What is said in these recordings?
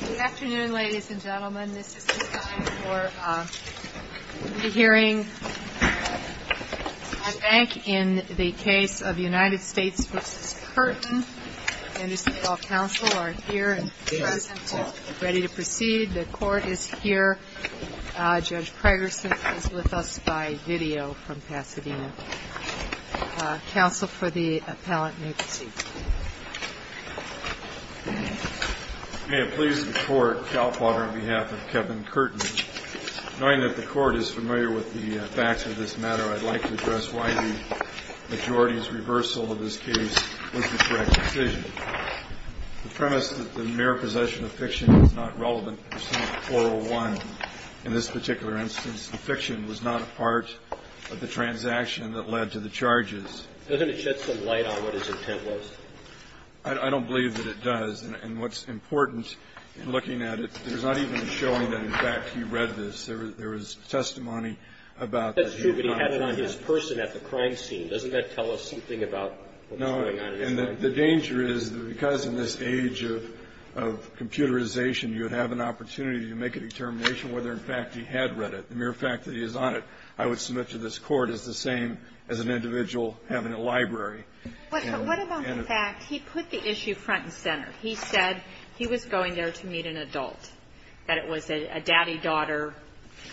Good afternoon, ladies and gentlemen. This is the time for the hearing. I think in the case of United States v. Curtin, Anderson Falls Council are here and present and ready to proceed. The court is here. Judge Pregerson is with us by video from Pasadena. Council for the appellant may proceed. May it please the court, Cal Potter on behalf of Kevin Curtin, knowing that the court is familiar with the facts of this matter, I'd like to address why the majority's reversal of this case was the correct decision. The premise that the mere possession of fiction is not relevant for Senate 401. In this particular instance, the fiction was not a part of the transaction that led to the charges. Doesn't it shed some light on what his intent was? I don't believe that it does. And what's important in looking at it, there's not even showing that, in fact, he read this. There was testimony about that he had not read it. That's true, but he had it on his person at the crime scene. Doesn't that tell us something about what's going on in his mind? He was going there to meet an adult, that it was a daddy-daughter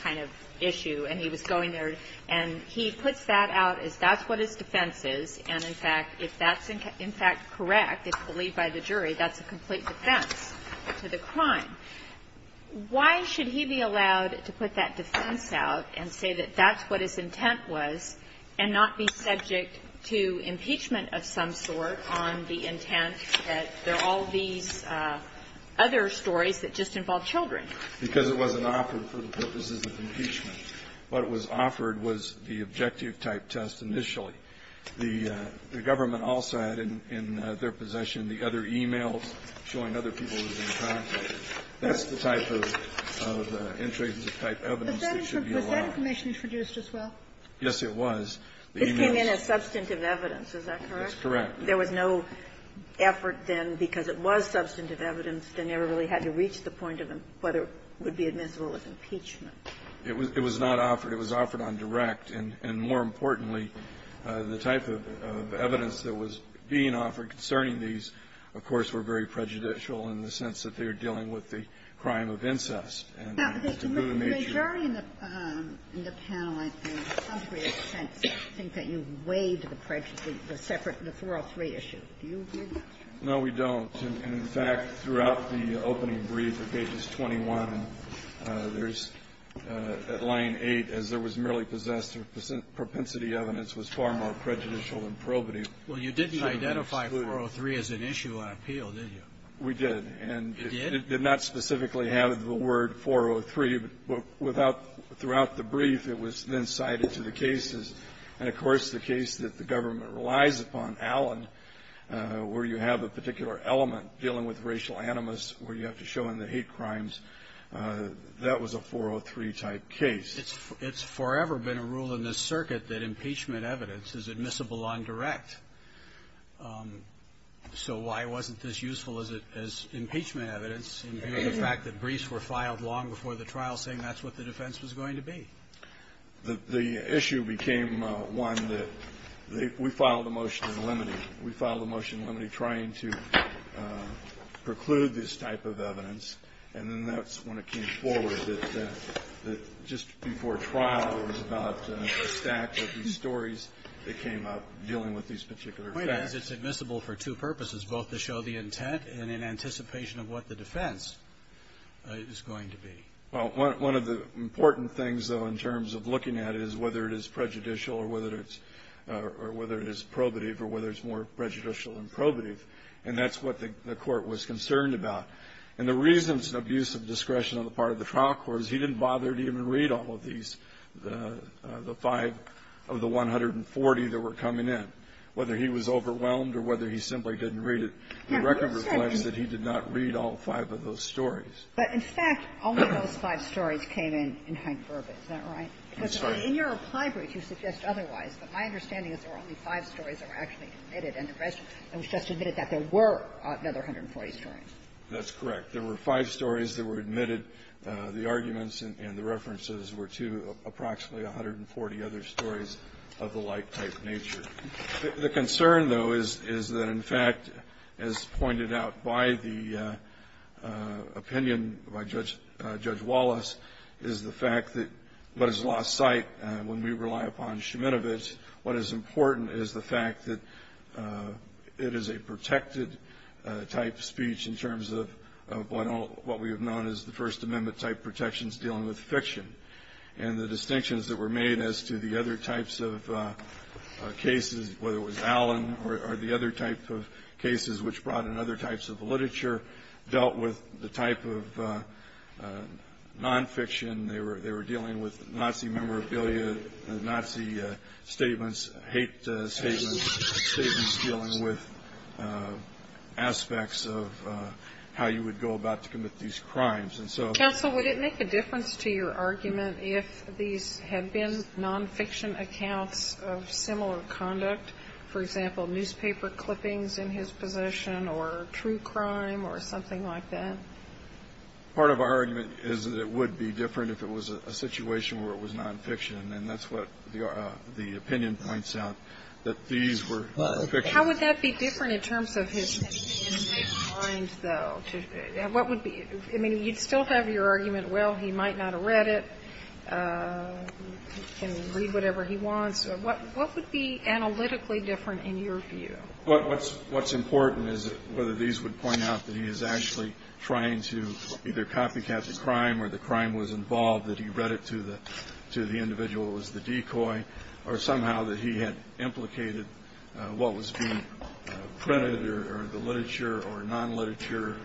kind of issue, and he was going there, and he puts that out as that's what his defense is. And, in fact, if that's, in fact, correct, it's believed by the jury, that's a complete defense to the crime. Why should he be allowed to put that defense out and say that that's what his intent was, and not be subject to impeachment of some sort on the intent that there are all these other stories that just involve children? Because it wasn't offered for the purposes of impeachment. What was offered was the objective-type test initially. The government also had in their possession the other e-mails showing other people who had been prosecuted. That's the type of intrusive-type evidence that should be allowed. Was that information introduced as well? Yes, it was. This came in as substantive evidence. Is that correct? That's correct. There was no effort then, because it was substantive evidence, they never really had to reach the point of whether it would be admissible as impeachment. It was not offered. It was offered on direct. And more importantly, the type of evidence that was being offered concerning these, of course, were very prejudicial in the sense that they were dealing with the crime of incest and taboo in nature. Now, the jury in the panel, I think, in some sense, think that you've weighed the prejudice, the separate, the 403 issue. Do you agree with that? No, we don't. And, in fact, throughout the opening brief of pages 21, there's, at line 8, as there was merely possessed propensity evidence, was far more prejudicial and probative. Well, you didn't identify 403 as an issue on appeal, did you? We did. And it did not specifically have the word 403, but without the brief, it was then cited to the cases, and, of course, the case that the government relies upon, Allen, where you have a particular element dealing with racial animus, where you have to show in the hate crimes, that was a 403-type case. It's forever been a rule in this circuit that impeachment evidence is admissible on direct, so why wasn't this useful as impeachment evidence in view of the fact that briefs were filed long before the trial, saying that's what the defense was going to be? The issue became one that we filed a motion in limine. We filed a motion in limine trying to preclude this type of evidence, and then that's when it came forward that just before trial, it was about a stack of these stories that came up dealing with these particular facts. The point is, it's admissible for two purposes, both to show the intent and in anticipation of what the defense is going to be. Well, one of the important things, though, in terms of looking at it is whether it is prejudicial or whether it's probative or whether it's more prejudicial than probative, and that's what the Court was concerned about. And the reasons of use of discretion on the part of the trial court is he didn't bother to even read all of these, the five of the 140 that were coming in. Whether he was overwhelmed or whether he simply didn't read it, the record reflects that he did not read all five of those stories. But, in fact, only those five stories came in in Hank-Burba, is that right? I'm sorry. Because in your applied brief, you suggest otherwise. But my understanding is there were only five stories that were actually admitted and the rest of it was just admitted that there were another 140 stories. That's correct. There were five stories that were admitted. The arguments and the references were to approximately 140 other stories of the like-type nature. The concern, though, is that, in fact, as pointed out by the opinion by Judge Wallace, is the fact that what is lost sight when we rely upon Sheminowitz, what is important is the fact that it is a protected-type speech in terms of what we have known as the First Amendment-type protections dealing with fiction. And the distinctions that were made as to the other types of cases, whether it was Allen or the other type of cases which brought in other types of literature, dealt with the type of nonfiction. They were dealing with Nazi memorabilia, Nazi statements, hate statements, statements dealing with aspects of how you would go about to commit these crimes. Counsel, would it make a difference to your argument if these had been nonfiction accounts of similar conduct? For example, newspaper clippings in his possession or true crime or something like that? Part of our argument is that it would be different if it was a situation where it was nonfiction. And that's what the opinion points out, that these were fiction. How would that be different in terms of his opinion? What would be, I mean, you'd still have your argument, well, he might not have read it, he can read whatever he wants. What would be analytically different in your view? What's important is whether these would point out that he is actually trying to either copycat the crime or the crime was involved, that he read it to the individual who was the decoy, or somehow that he had implicated what was being printed or the non-literature,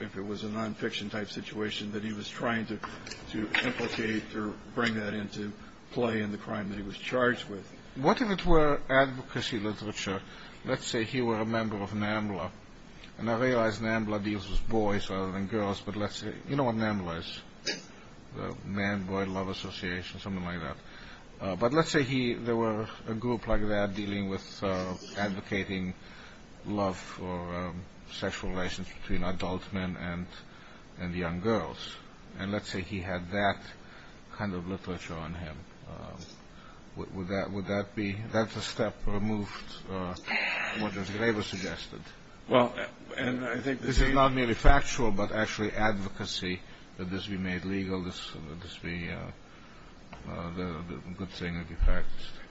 if it was a nonfiction type situation, that he was trying to implicate or bring that into play in the crime that he was charged with. What if it were advocacy literature, let's say he were a member of NAMBLA, and I realize NAMBLA deals with boys rather than girls, but let's say, you know what NAMBLA is, the Man Boy Love Association, something like that, but let's say there were a group like that dealing with advocating love or sexual relations between adult men and young girls, and let's say he had that kind of literature on him, would that be, that's a step removed, what as Graeber suggested. Well, and I think this is not merely factual, but actually advocacy, that this be made legal,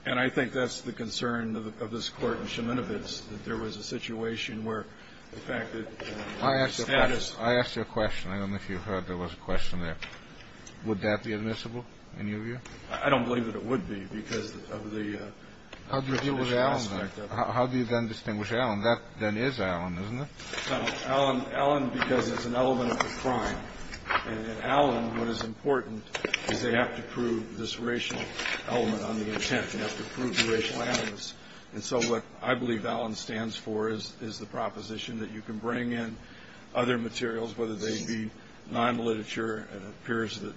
and I think that's the concern of this Court in Sheminovitz, that there was a situation where the fact that the status. I asked you a question. I don't know if you heard there was a question there. Would that be admissible, in your view? I don't believe that it would be, because of the. How do you deal with Allen? How do you then distinguish Allen? That then is Allen, isn't it? No, Allen, because it's an element of the crime, and in Allen, what is important is they have to prove this racial element on the intent, they have to prove the racial animus, and so what I believe Allen stands for is the proposition that you can bring in other materials, whether they be non-literature, and it appears that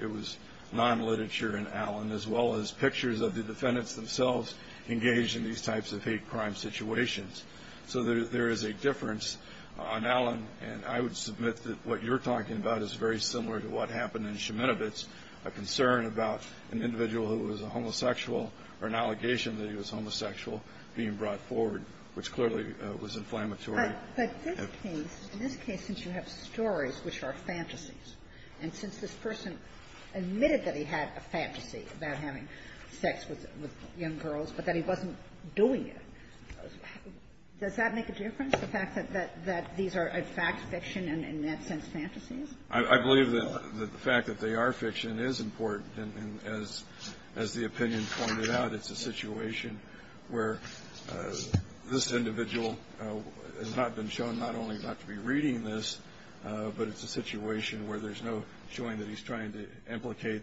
it was non-literature in Allen, as well as pictures of the defendants themselves engaged in these types of hate crime situations. So there is a difference on Allen, and I would submit that what you're talking about is very much a concern about an individual who was a homosexual or an allegation that he was homosexual being brought forward, which clearly was inflammatory. But this case, in this case, since you have stories which are fantasies, and since this person admitted that he had a fantasy about having sex with young girls, but that he wasn't doing it, does that make a difference, the fact that these are, in fact, fiction and, in that sense, fantasies? I believe that the fact that they are fiction is important, and as the opinion pointed out, it's a situation where this individual has not been shown not only not to be reading this, but it's a situation where there's no showing that he's trying to implicate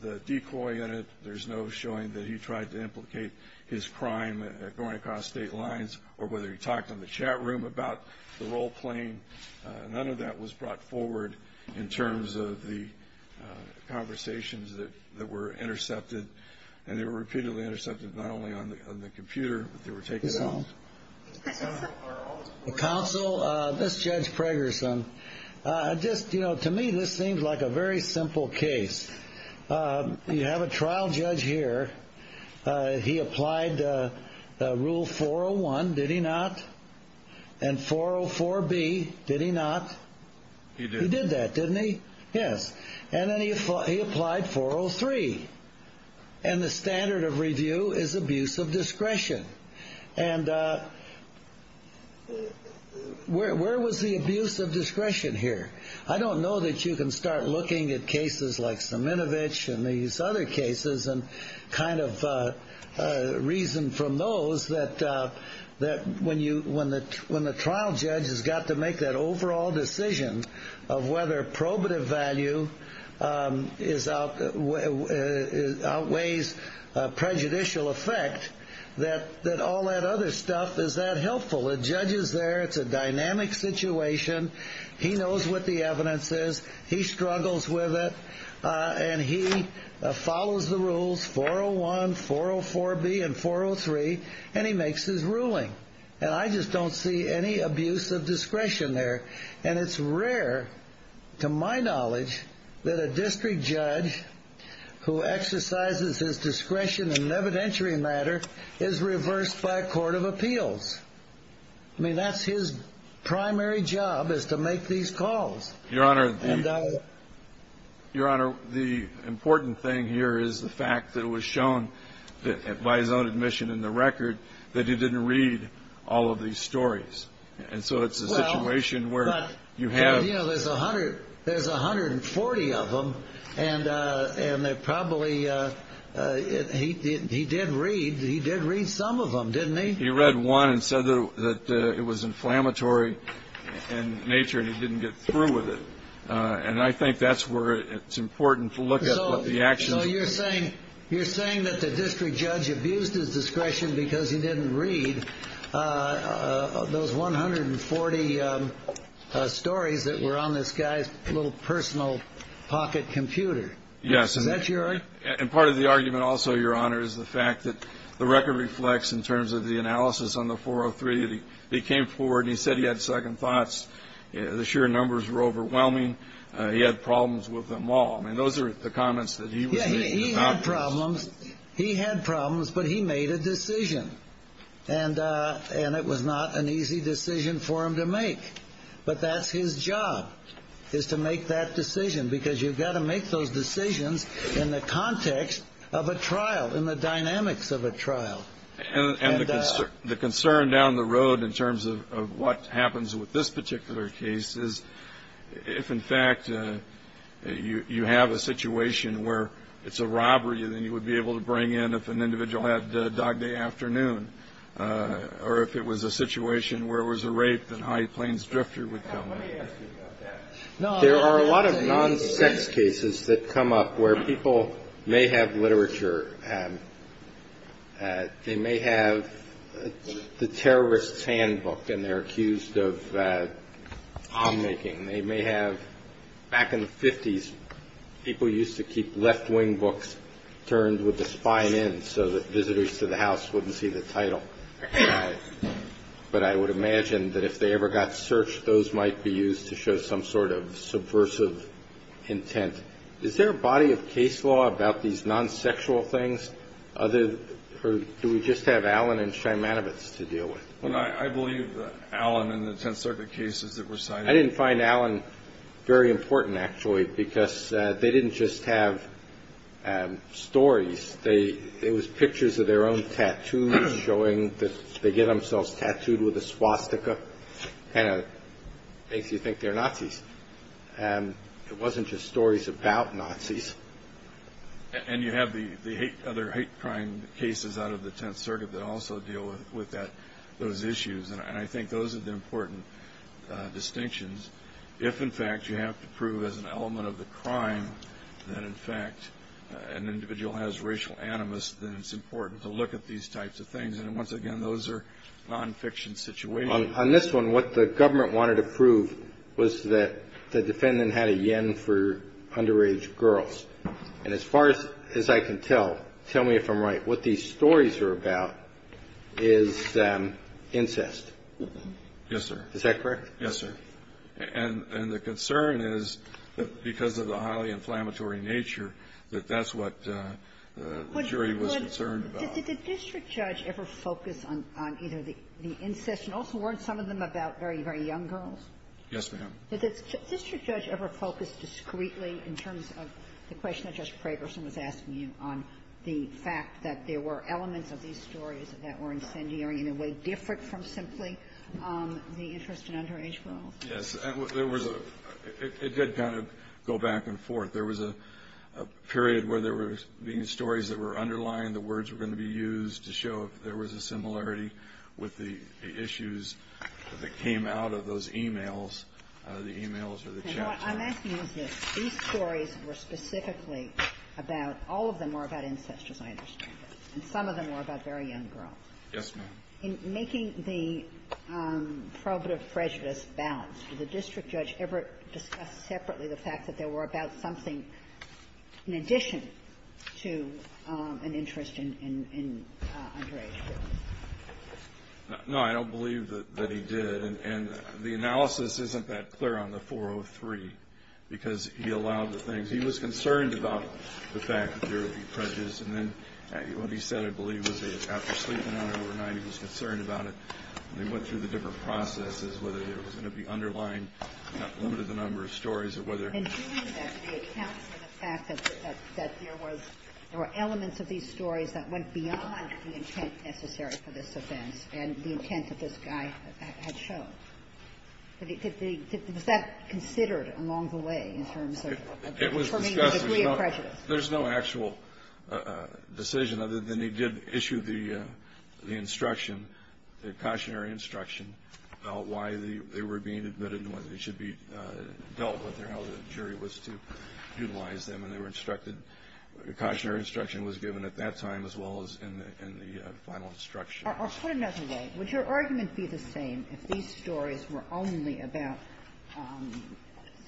the decoy in it, there's no showing that he tried to implicate his crime going across state lines, or whether he talked in the chat room about the role playing, none of that was brought forward in terms of the conversations that were intercepted, and they were repeatedly intercepted, not only on the computer, but they were taken out. Counsel, this is Judge Preggerson. Just, you know, to me, this seems like a very simple case. You have a trial judge here. He applied Rule 401, did he not? And 404B, did he not? He did that, didn't he? Yes. And then he applied 403, and the standard of review is abuse of discretion. And where was the abuse of discretion here? I don't know that you can start looking at cases like Saminovich and these other cases and kind of reason from those that when the trial judge has got to make that overall decision of whether probative value outweighs prejudicial effect, that all that other stuff is that helpful. The judge is there, it's a dynamic situation, he knows what the evidence is, he struggles with it, and he follows the rules, 401, 404B, and 403, and he makes his ruling. And I just don't see any abuse of discretion there. And it's rare, to my knowledge, that a district judge who exercises his discretion in evidentiary matter is reversed by a court of appeals. I mean, that's his primary job, is to make these calls. Your Honor, the important thing here is the fact that it was shown by his own admission in the record that he didn't read all of these stories. And so it's a situation where you have... But, you know, there's 140 of them, and they're probably... He did read some of them, didn't he? He read one and said that it was inflammatory in nature and he didn't get through with it. And I think that's where it's important to look at what the actions... So you're saying that the district judge abused his discretion because he didn't read those 140 stories that were on this guy's little personal pocket computer? Yes. Is that your argument? And part of the argument also, Your Honor, is the fact that the record reflects, in terms of the analysis on the 403, that he came forward and he said he had second thoughts. The sheer numbers were overwhelming. He had problems with them all. I mean, those are the comments that he was making about... Yeah, he had problems. He had problems, but he made a decision. And it was not an easy decision for him to make. But that's his job, is to make that decision, because you've got to make those decisions in the context of a trial, in the dynamics of a trial. And the concern down the road, in terms of what happens with this particular case, is if, in fact, you have a situation where it's a robbery, then you would be able to bring in, if an individual had Dog Day Afternoon, or if it was a situation where it was a rape, then High Plains Drifter would come in. Now, let me ask you about that. They may have the Terrorist's Handbook, and they're accused of palm-making. They may have... Back in the 50s, people used to keep left-wing books turned with the spine in, so that visitors to the house wouldn't see the title. But I would imagine that if they ever got searched, those might be used to show some sort of subversive intent. Is there a body of case law about these non-sexual things? Or do we just have Allen and Szymanowicz to deal with? Well, I believe Allen and the Tenth Circuit cases that were cited. I didn't find Allen very important, actually, because they didn't just have stories. It was pictures of their own tattoos, showing that they get themselves tattooed with a swastika. Kind of makes you think they're Nazis. It wasn't just stories about Nazis. And you have the other hate crime cases out of the Tenth Circuit that also deal with those issues. And I think those are the important distinctions. If, in fact, you have to prove as an element of the crime that, in fact, an individual has racial animus, then it's important to look at these types of things. And once again, those are non-fiction situations. On this one, what the government wanted to prove was that the defendant had a yen for underage girls. And as far as I can tell, tell me if I'm right, what these stories are about is incest. Yes, sir. Is that correct? Yes, sir. And the concern is, because of the highly inflammatory nature, that that's what the jury was concerned about. Did the district judge ever focus on either the incest, and also, weren't some of them about very, very young girls? Yes, ma'am. Did the district judge ever focus discreetly, in terms of the question that Justice Fragerson was asking you, on the fact that there were elements of these stories that were incendiary in a way different from simply the interest in underage girls? Yes. There was a — it did kind of go back and forth. There was a period where there were being stories that were underlying. The words were going to be used to show if there was a similarity with the issues that came out of those e-mails, the e-mails or the chats. And what I'm asking is this. These stories were specifically about — all of them were about incest, as I understand it. And some of them were about very young girls. Yes, ma'am. In making the probative prejudice balanced, did the district judge ever discuss separately the fact that they were about something in addition to an interest in underage girls? No, I don't believe that he did. And the analysis isn't that clear on the 403, because he allowed the things — he was concerned about the fact that there would be prejudice. And then what he said, I believe, was that after sleeping on it overnight, he was concerned about it. And they went through the different processes, whether there was going to be underlying — limited the number of stories or whether — And during that, the accounts for the fact that there was — there were elements of these stories that went beyond the intent necessary for this offense and the intent that this guy had shown. Did they — was that considered along the way in terms of — It was discussed. — the degree of prejudice? There's no actual decision other than he did issue the instruction, the cautionary instruction, about why they were being admitted and whether they should be dealt with or how the jury was to utilize them. And they were instructed — the cautionary instruction was given at that time as well as in the final instruction. Or put another way, would your argument be the same if these stories were only about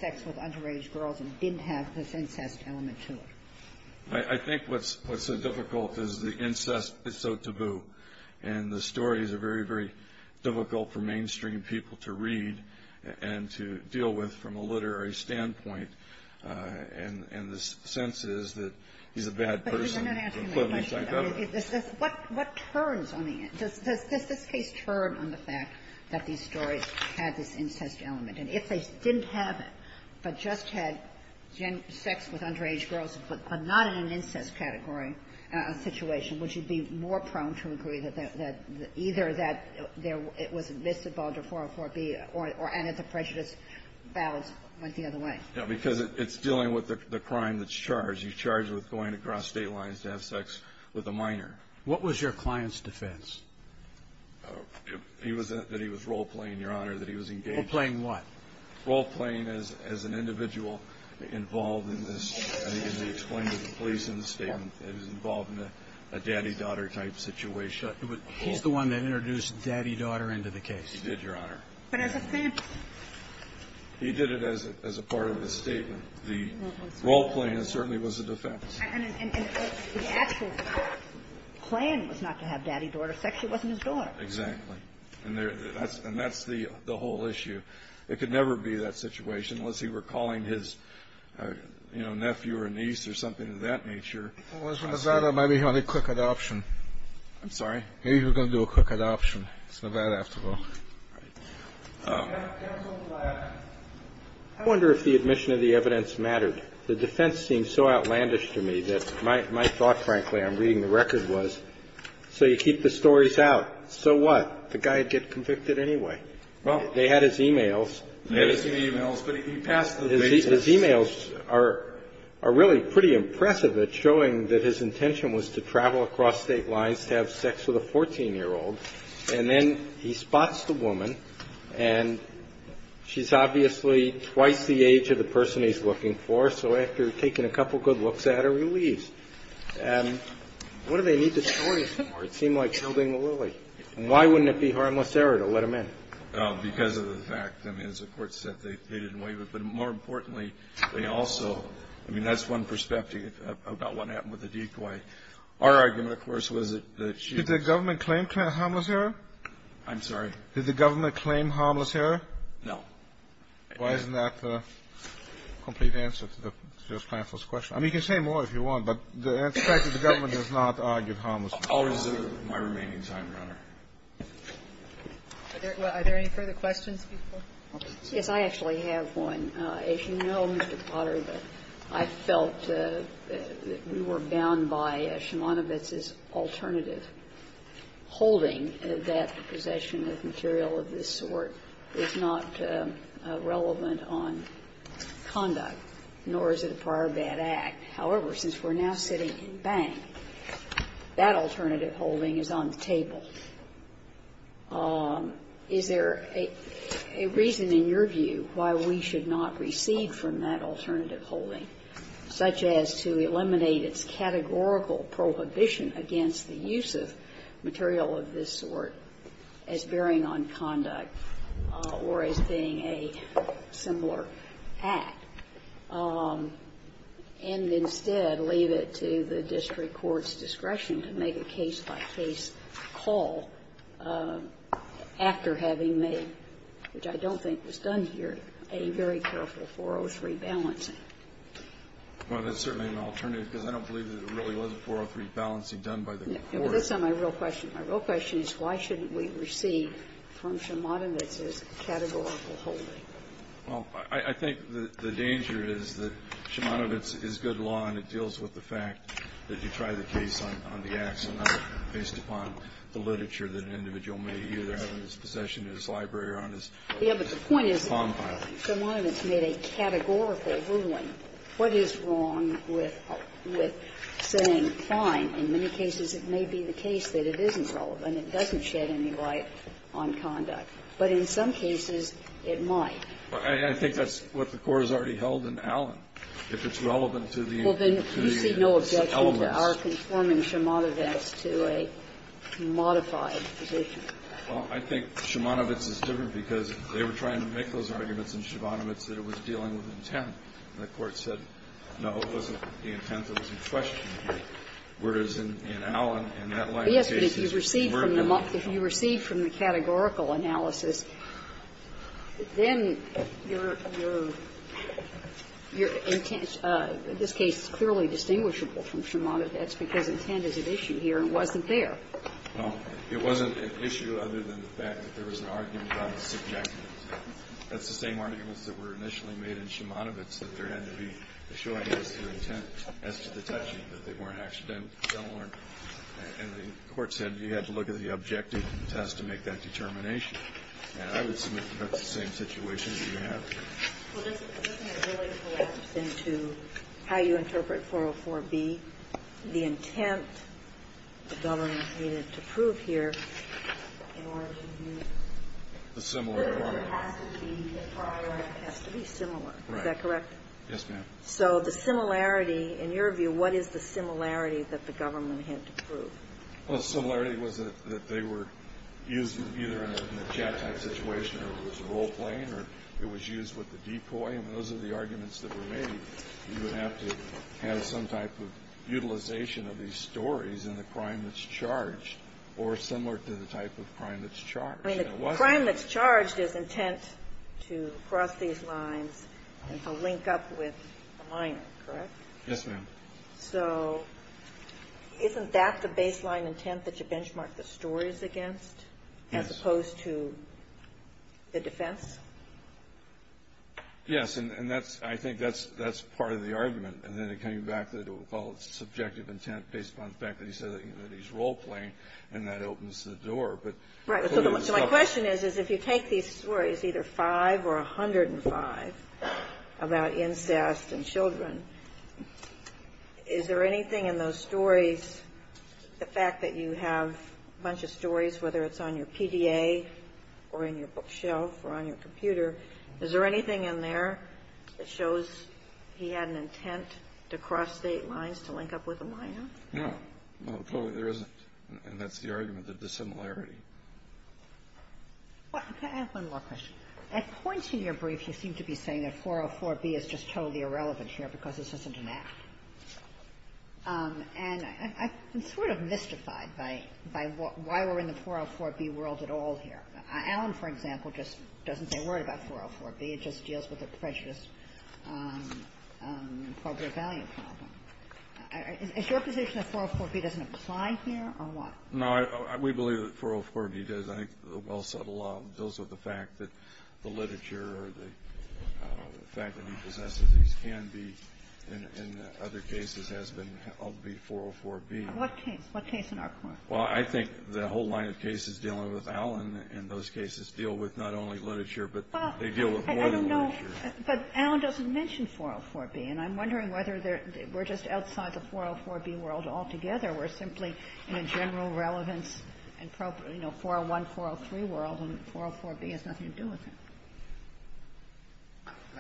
sex with underage girls and didn't have this incest element to it? I think what's so difficult is the incest is so taboo. And the stories are very, very difficult for mainstream people to read and to deal with from a literary standpoint. And the sense is that he's a bad person. But you're not asking me a question. What turns on the — does this case turn on the fact that these stories had this incest element? And if they didn't have it but just had sex with underage girls but not in an incest category situation, would you be more prone to agree that either that it was missed at Balder 404-B or added the prejudice balance went the other way? No, because it's dealing with the crime that's charged. You're charged with going across state lines to have sex with a minor. What was your client's defense? He was — that he was role-playing, Your Honor, that he was engaged — Role-playing what? Role-playing as an individual involved in this — as he explained to the police in the statement, that he was involved in a daddy-daughter type situation. He's the one that introduced daddy-daughter into the case? He did, Your Honor. But is it the — He did it as a part of the statement. The role-playing certainly was a defense. And the actual plan was not to have daddy-daughter sex. It wasn't his daughter. Exactly. And that's the whole issue. It could never be that situation unless he were calling his, you know, nephew or niece or something of that nature. Well, as a Nevada, maybe he had a quick adoption. I'm sorry? Maybe he was going to do a quick adoption. It's Nevada, after all. Right. Counsel Black, I wonder if the admission of the evidence mattered. The defense seems so outlandish to me that my thought, frankly, on reading the record was, so you keep the stories out, so what? The guy would get convicted anyway. Well — They had his e-mails. They had his e-mails, but he passed the basis — His e-mails are really pretty impressive at showing that his intention was to travel across state lines to have sex with a 14-year-old. And then he spots the woman, and she's obviously twice the age of the person he's looking for. So after taking a couple good looks at her, he leaves. What do they need the story for? It seemed like building a lily. And why wouldn't it be harmless error to let him in? Because of the fact, I mean, as the Court said, they didn't waive it. But more importantly, they also — I mean, that's one perspective about what happened with the decoy. Our argument, of course, was that she — Did the government claim harmless error? I'm sorry? Did the government claim harmless error? No. Why isn't that the complete answer to the Justice Klanfel's question? I mean, you can say more if you want, but the fact that the government has not argued harmless error. I'll reserve my remaining time, Your Honor. Are there any further questions, Justice Klanfel? Yes, I actually have one. As you know, Mr. Potter, I felt that we were bound by Shimonovitz's alternative holding that possession of material of this sort is not relevant on conduct, nor is it a prior bad act. However, since we're now sitting in Bank, that alternative holding is on the table. Is there a reason, in your view, why we should not recede from that alternative holding, such as to eliminate its categorical prohibition against the use of material of this sort as bearing on conduct or as being a similar act, and instead leave it to the district court's discretion to make a case-by-case call after having made, which I don't think was done here, a very careful 403 balancing? Well, that's certainly an alternative, because I don't believe that it really was a 403 balancing done by the court. No, but that's not my real question. My real question is, why shouldn't we recede from Shimonovitz's categorical holding? Well, I think the danger is that Shimonovitz is good law, and it deals with the fact that you try the case on the ax, and not based upon the literature that an individual can find. But the point is that Shimonovitz made a categorical ruling. What is wrong with saying, fine, in many cases it may be the case that it isn't relevant, it doesn't shed any light on conduct, but in some cases it might? I think that's what the Court has already held in Allen. If it's relevant to the elements. Well, then you see no objection to our conforming Shimonovitz to a modified position. Well, I think Shimonovitz is different because they were trying to make those arguments in Shimonovitz that it was dealing with intent, and the Court said, no, it wasn't the intent that was in question here. Whereas in Allen, in that line of case, it's the word that's involved. But, yes, but if you recede from the categorical analysis, then your intent, in this case, is clearly distinguishable from Shimonovitz, that's because intent is at issue here and wasn't there. Well, it wasn't an issue other than the fact that there was an argument about the subject. That's the same arguments that were initially made in Shimonovitz, that there had to be a showing as to intent as to the touching, that they weren't accidental. And the Court said you had to look at the objective test to make that determination. And I would submit that that's the same situation that you have here. Well, doesn't it really collapse into how you interpret 404B, the intent the government needed to prove here in order to use the word has to be a prior, has to be similar. Is that correct? Yes, ma'am. So the similarity, in your view, what is the similarity that the government had to prove? Well, the similarity was that they were used either in a jet-type situation or it was role-playing or it was used with the decoy. I mean, those are the arguments that were made. You would have to have some type of utilization of these stories in the crime that's charged or similar to the type of crime that's charged. I mean, the crime that's charged is intent to cross these lines and to link up with the minor, correct? Yes, ma'am. So isn't that the baseline intent that you benchmark the stories against as opposed to the defense? Yes. And that's – I think that's part of the argument. And then it came back that it was called subjective intent based upon the fact that he said that he's role-playing, and that opens the door. But clearly, it's not. Right. So my question is, is if you take these stories, either 5 or 105, about incest and children, is there anything in those stories – the fact that you have a bunch of them in your safe or in your bookshelf or on your computer – is there anything in there that shows he had an intent to cross state lines to link up with the minor? No. No, there isn't. And that's the argument, the dissimilarity. Can I ask one more question? At points in your brief, you seem to be saying that 404B is just totally irrelevant here because this isn't an act. And I'm sort of mystified by why we're in the 404B world at all here. Allen, for example, just doesn't say, worry about 404B. It just deals with a precious appropriate value problem. Is your position that 404B doesn't apply here, or what? No, I – we believe that 404B does. I think the well-settled law deals with the fact that the literature or the fact that he possesses these can be, in other cases, has been of the 404B. What case? What case in our court? Well, I think the whole line of cases dealing with Allen in those cases deal with not only literature, but they deal with more than literature. But Allen doesn't mention 404B. And I'm wondering whether we're just outside the 404B world altogether. We're simply in a general relevance, you know, 401, 403 world, and 404B has nothing to do with it.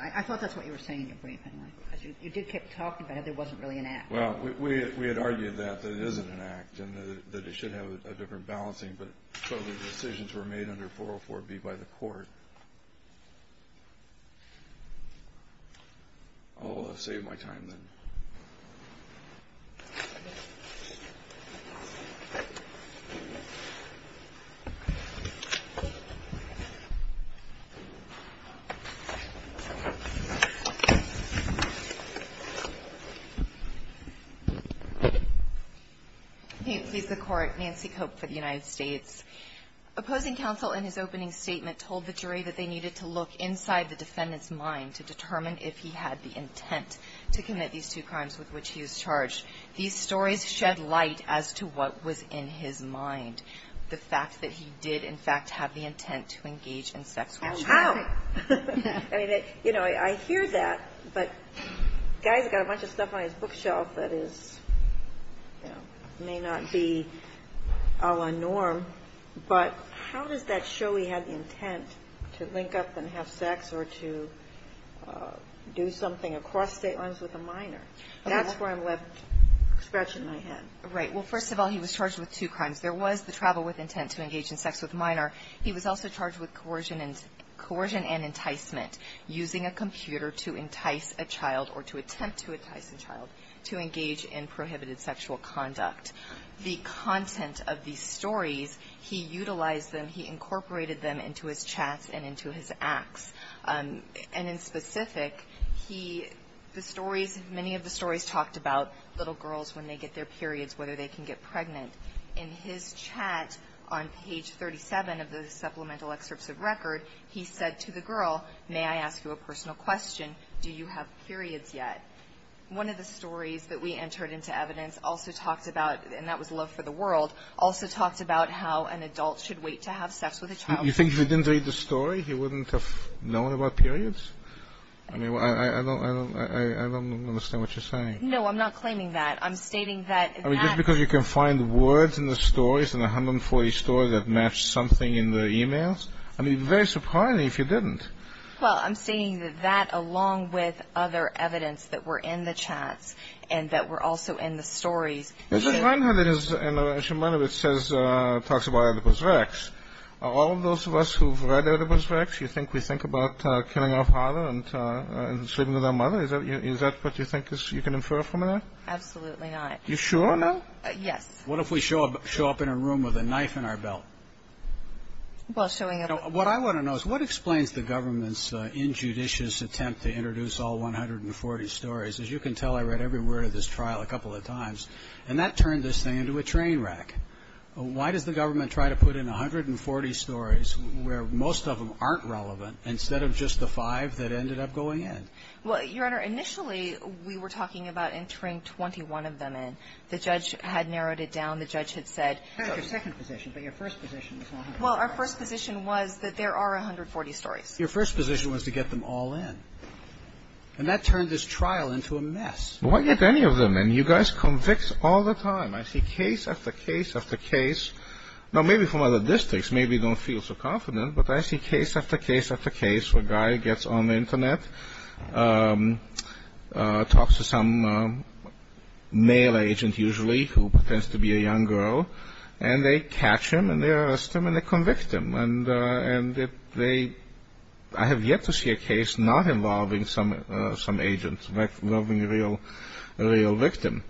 I thought that's what you were saying in your brief, anyway, because you did keep talking about how there wasn't really an act. Well, we had argued that there isn't an act, and that it should have a different balancing, but the decisions were made under 404B by the court. Oh, I've saved my time, then. Can you please, the Court, Nancy Cope for the United States. Opposing counsel in his opening statement told the jury that they needed to look inside the defendant's mind to determine if he had the intent to commit these two crimes with which he was charged. These stories shed light as to what was in his mind, the fact that he did, in fact, have the intent to engage in sexual assault. Oh, how? I mean, you know, I hear that, but the guy's got a bunch of stuff on his bookshelf that is, you know, may not be a la norm, but how does that show he had the intent to link up and have sex or to do something across state lines with a minor? That's where I'm left scratching my head. Right. Well, first of all, he was charged with two crimes. There was the travel with intent to engage in sex with a minor. He was also charged with coercion and enticement, using a computer to entice a child or to attempt to entice a child to engage in prohibited sexual conduct. The content of these stories, he utilized them. He incorporated them into his chats and into his acts. And in specific, he, the stories, many of the stories talked about little girls when they get their periods, whether they can get pregnant. In his chat on page 37 of the supplemental excerpts of record, he said to the girl, may I ask you a personal question, do you have periods yet? One of the stories that we entered into evidence also talked about, and that was Love for the World, also talked about how an adult should wait to have sex with a child. You think if he didn't read the story, he wouldn't have known about periods? I mean, I don't understand what you're saying. No, I'm not claiming that. I'm stating that. I mean, just because you can find words in the stories, in the 140 stories that match something in the emails. I mean, it would be very surprising if you didn't. Well, I'm stating that that, along with other evidence that were in the chats and that were also in the stories. Is it right that it is, and I should remind you, it says, talks about Oedipus Rex. All of those of us who've read Oedipus Rex, you think we think about killing our father and sleeping with our mother? Is that what you think you can infer from that? Absolutely not. You sure? Yes. What if we show up in a room with a knife in our belt? Well, showing up. What I want to know is what explains the government's injudicious attempt to introduce all 140 stories? As you can tell, I read every word of this trial a couple of times, and that turned this thing into a train wreck. Why does the government try to put in 140 stories where most of them aren't relevant, instead of just the five that ended up going in? Well, Your Honor, initially, we were talking about entering 21 of them in. The judge had narrowed it down. The judge had said. Your second position, but your first position was 140. Well, our first position was that there are 140 stories. Your first position was to get them all in, and that turned this trial into a mess. Why get any of them in? You guys convict all the time. I see case after case after case. Now, maybe from other districts, maybe you don't feel so confident, talks to some male agent, usually, who pretends to be a young girl, and they catch him, and they arrest him, and they convict him. And I have yet to see a case not involving some agent, involving a real victim.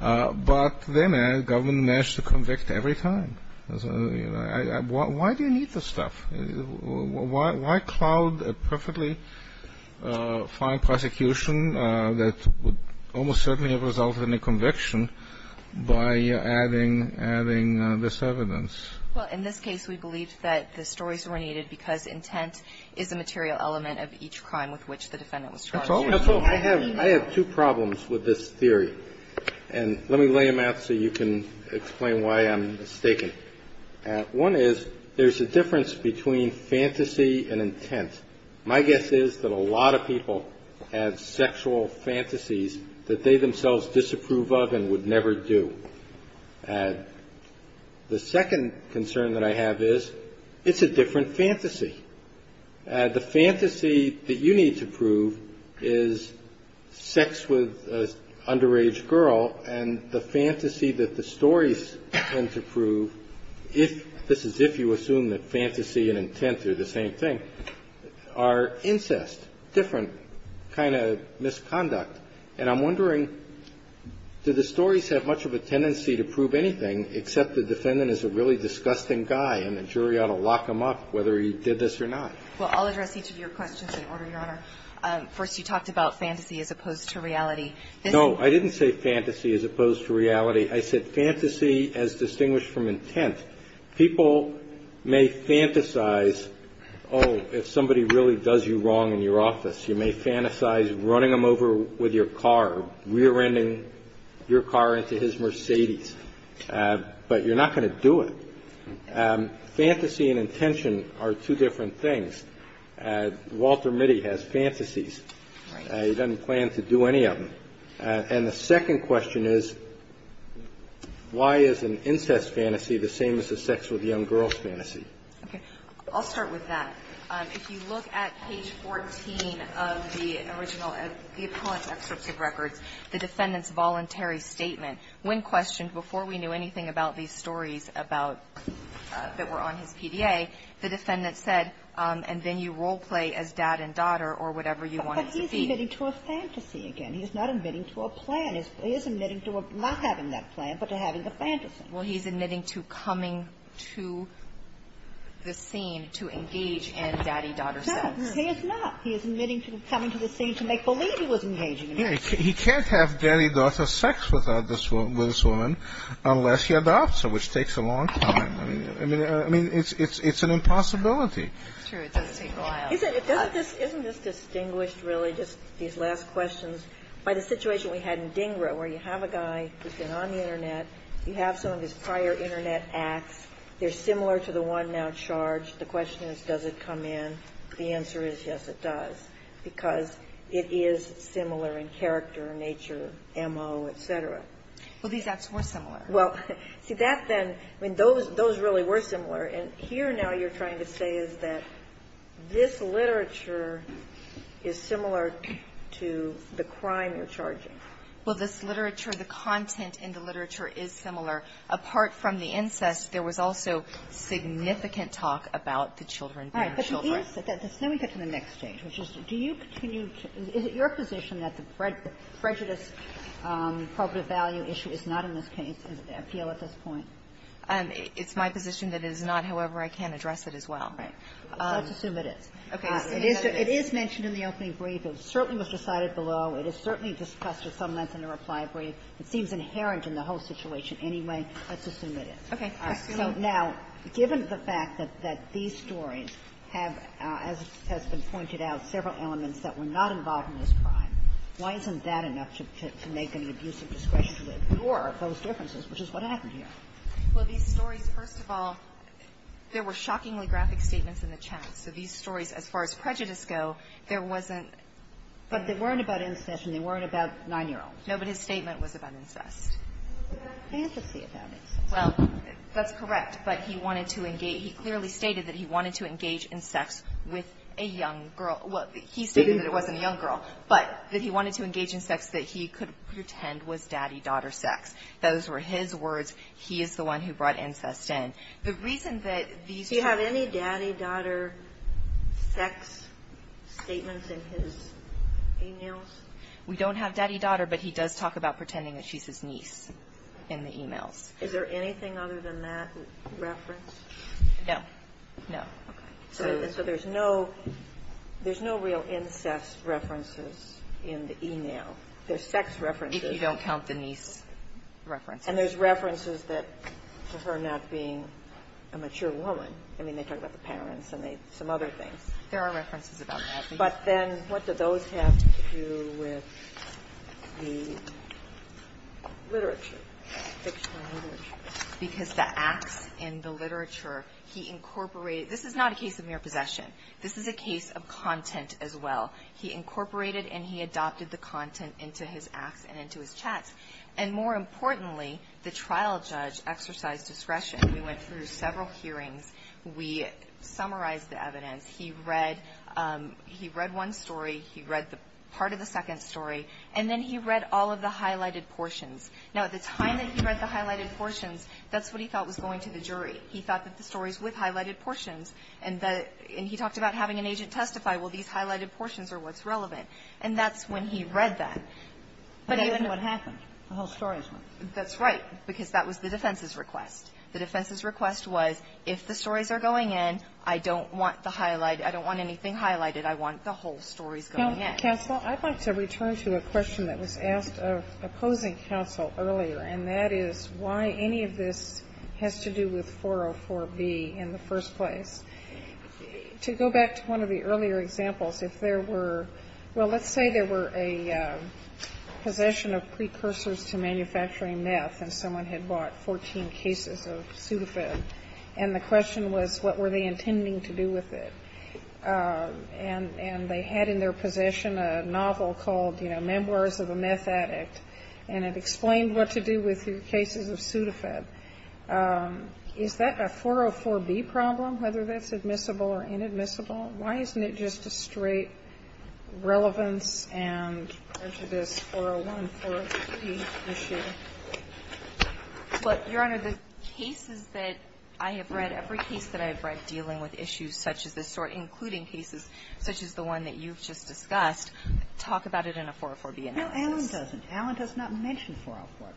But the government managed to convict every time. Why do you need this stuff? Why cloud a perfectly fine prosecution that would almost certainly have resulted in a conviction by adding this evidence? Well, in this case, we believe that the stories were needed because intent is a material element of each crime with which the defendant was charged. I have two problems with this theory, and let me lay them out so you can explain why I'm mistaken. One is there's a difference between fantasy and intent. My guess is that a lot of people have sexual fantasies that they themselves disapprove of and would never do. The second concern that I have is it's a different fantasy. The fantasy that you need to prove is sex with an underage girl, and the fantasy that you need to prove is the underage girl. So I'm wondering, do you see that the stories tend to prove, if this is if you assume that fantasy and intent are the same thing, are incest, different kind of misconduct? And I'm wondering, do the stories have much of a tendency to prove anything except that the defendant is a really disgusting guy and the jury ought to lock him up, whether he did this or not? Well, I'll address each of your questions in order, Your Honor. First, you talked about fantasy as opposed to reality. No, I didn't say fantasy as opposed to reality. I said fantasy as distinguished from intent. People may fantasize, oh, if somebody really does you wrong in your office, you may fantasize running him over with your car, rear-ending your car into his Mercedes, but you're not going to do it. Fantasy and intention are two different things. Walter Mitty has fantasies. He doesn't plan to do any of them. And the second question is, why is an incest fantasy the same as a sex with young girls fantasy? Okay. I'll start with that. If you look at page 14 of the original, the appellant's excerpt of records, the defendant's voluntary statement, when questioned, before we knew anything about these stories about that were on his PDA, the defendant said, and then you role-play as dad and daughter or whatever you wanted to be. But he's admitting to a fantasy again. He's not admitting to a plan. He is admitting to not having that plan, but to having the fantasy. Well, he's admitting to coming to the scene to engage in daddy-daughter sex. No, he is not. He is admitting to coming to the scene to make believe he was engaging in it. He can't have daddy-daughter sex with this woman unless he adopts her, which takes a long time. I mean, it's an impossibility. It's true. It doesn't take a while. Isn't this distinguished, really, just these last questions, by the situation we had in this prior Internet acts, they're similar to the one now charged. The question is, does it come in? The answer is, yes, it does, because it is similar in character, nature, MO, et cetera. Well, these acts were similar. Well, see, that then – I mean, those really were similar. And here now you're trying to say is that this literature is similar to the crime you're charging. Well, this literature, the content in the literature is similar. Apart from the incest, there was also significant talk about the children being children. All right. But the answer to that is – let me get to the next stage, which is do you continue to – is it your position that the prejudice, probative value issue is not in this case, in the appeal at this point? It's my position that it is not. However, I can address it as well. Right. Let's assume it is. Okay. It is mentioned in the opening brief. It certainly was decided below. It is certainly discussed at some length in the reply brief. It seems inherent in the whole situation anyway. Let's assume it is. Okay. All right. So now, given the fact that these stories have, as has been pointed out, several elements that were not involved in this crime, why isn't that enough to make an abusive discretion to ignore those differences, which is what happened here? Well, these stories, first of all, there were shockingly graphic statements in the chat. So these stories, as far as prejudice go, there wasn't – But they weren't about incest, and they weren't about 9-year-olds. No, but his statement was about incest. It was about fantasy about incest. Well, that's correct. But he wanted to – he clearly stated that he wanted to engage in sex with a young girl – well, he stated that it wasn't a young girl, but that he wanted to engage in sex that he could pretend was daddy-daughter sex. Those were his words. He is the one who brought incest in. The reason that these two – Do you have any daddy-daughter sex statements in his e-mails? We don't have daddy-daughter, but he does talk about pretending that she's his niece in the e-mails. Is there anything other than that referenced? No. No. Okay. So there's no – there's no real incest references in the e-mail. There's sex references. If you don't count the niece references. And there's references that – to her not being a mature woman. I mean, they talk about the parents and some other things. There are references about that. But then what do those have to do with the literature, fictional literature? Because the acts in the literature, he incorporated – this is not a case of mere possession. This is a case of content as well. He incorporated and he adopted the content into his acts and into his chats. And more importantly, the trial judge exercised discretion. We went through several hearings. We summarized the evidence. He read – he read one story. He read the – part of the second story. And then he read all of the highlighted portions. Now, at the time that he read the highlighted portions, that's what he thought was going to the jury. He thought that the stories with highlighted portions and the – and he talked about having an agent testify, well, these highlighted portions are what's relevant. And that's when he read that. But that isn't what happened. The whole story is what happened. That's right. Because that was the defense's request. The defense's request was, if the stories are going in, I don't want the highlighted – I don't want anything highlighted. I want the whole stories going in. Counsel, I'd like to return to a question that was asked of opposing counsel earlier, and that is why any of this has to do with 404B in the first place. To go back to one of the earlier examples, if there were – well, let's say there were a possession of precursors to manufacturing meth, and someone had bought 14 cases of Sudafed. And the question was, what were they intending to do with it? And they had in their possession a novel called, you know, Memoirs of a Meth Addict. And it explained what to do with your cases of Sudafed. Is that a 404B problem, whether that's admissible or inadmissible? Why isn't it just a straight relevance and prejudice, 401, 403 issue? But, Your Honor, the cases that I have read, every case that I have read dealing with issues such as this sort, including cases such as the one that you've just discussed, talk about it in a 404B analysis. No, Alan doesn't. Alan does not mention 404B.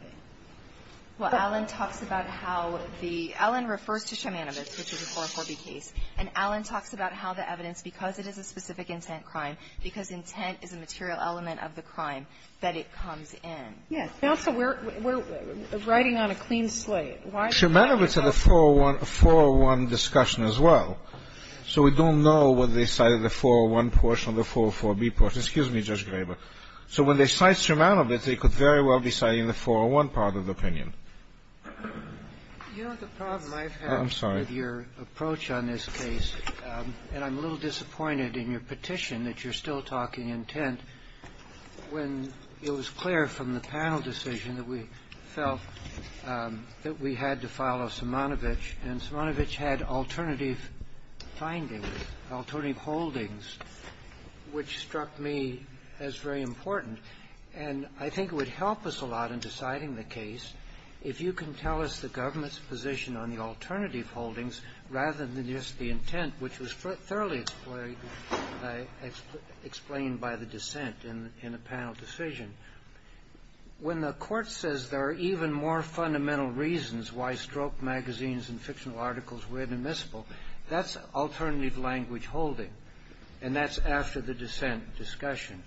Well, Alan talks about how the – Alan refers to Shimanovitz, which is a 404B case. And Alan talks about how the evidence, because it is a specific intent crime, because intent is a material element of the crime, that it comes in. Yes. Now, so we're writing on a clean slate. Shimanovitz had a 401 discussion as well. So we don't know whether they cited the 401 portion or the 404B portion. Excuse me, Judge Graber. So when they cite Shimanovitz, they could very well be citing the 401 part of the opinion. You know, the problem I've had with your approach on this case, and I'm a little disappointed in your petition that you're still talking intent, when it was clear from the panel decision that we felt that we had to file off Shimanovitz, and Shimanovitz had alternative findings, alternative holdings, which struck me as very important. And I think it would help us a lot in deciding the case if you can tell us the government's position on the alternative holdings, rather than just the intent, which was thoroughly explained by the dissent in the panel decision. When the Court says there are even more fundamental reasons why stroke magazines and articles were inadmissible, that's alternative language holding, and that's after the dissent discussion.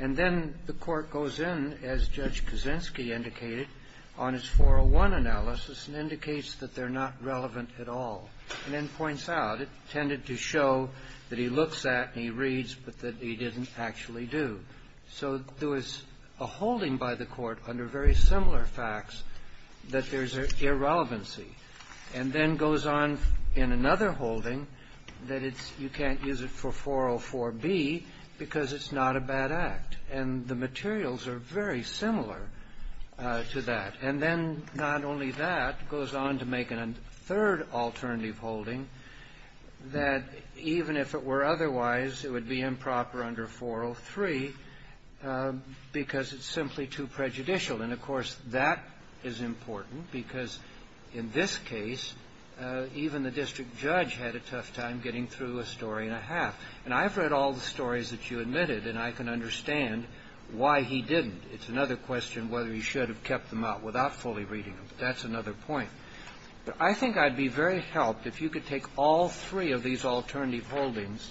And then the Court goes in, as Judge Kuczynski indicated, on its 401 analysis and indicates that they're not relevant at all, and then points out. It tended to show that he looks at and he reads, but that he didn't actually do. So there was a holding by the Court under very similar facts that there's an irrelevancy, and then goes on in another holding that you can't use it for 404B because it's not a bad act. And the materials are very similar to that. And then not only that, goes on to make a third alternative holding that even if it were otherwise, it would be improper under 403 because it's simply too prejudicial. And of course, that is important because in this case, even the district judge had a tough time getting through a story and a half. And I've read all the stories that you admitted, and I can understand why he didn't. It's another question whether he should have kept them out without fully reading them. That's another point. But I think I'd be very helped if you could take all three of these alternative holdings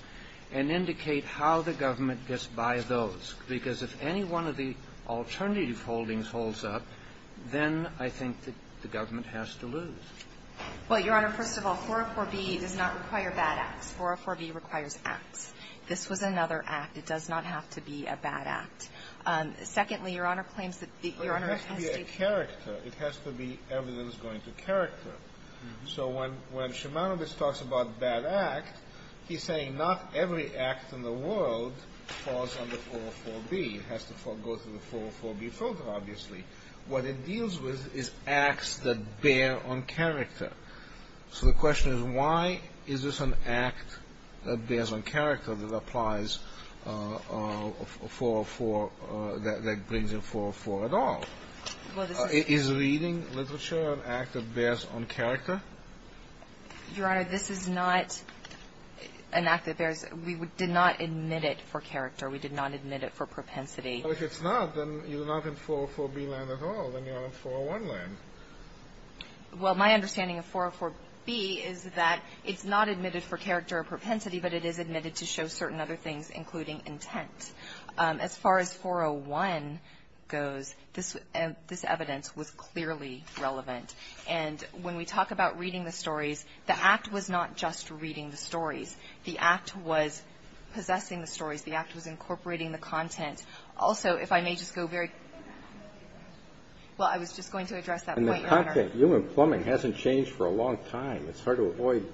and indicate how the government gets by those. Because if any one of the alternative holdings holds up, then I think that the government has to lose. Well, Your Honor, first of all, 404B does not require bad acts. 404B requires acts. This was another act. It does not have to be a bad act. Secondly, Your Honor claims that the Your Honor has stated that It has to be a character. It has to be evidence going to character. So when Shimanobis talks about bad act, he's saying not every act in the world falls under 404B. It has to go through the 404B filter, obviously. What it deals with is acts that bear on character. So the question is, why is this an act that bears on character that applies 404, that brings in 404 at all? Well, this is Is reading literature an act that bears on character? Your Honor, this is not an act that bears We did not admit it for character. We did not admit it for propensity. Well, if it's not, then you're not in 404B land at all. Then you're on 401 land. Well, my understanding of 404B is that it's not admitted for character or propensity, but it is admitted to show certain other things, including intent. As far as 401 goes, this evidence was clearly relevant. And when we talk about reading the stories, the act was not just reading the stories. The act was possessing the stories. The act was incorporating the content. Also, if I may just go very Well, I was just going to address that point, Your Honor. And the content. Human plumbing hasn't changed for a long time. It's hard to avoid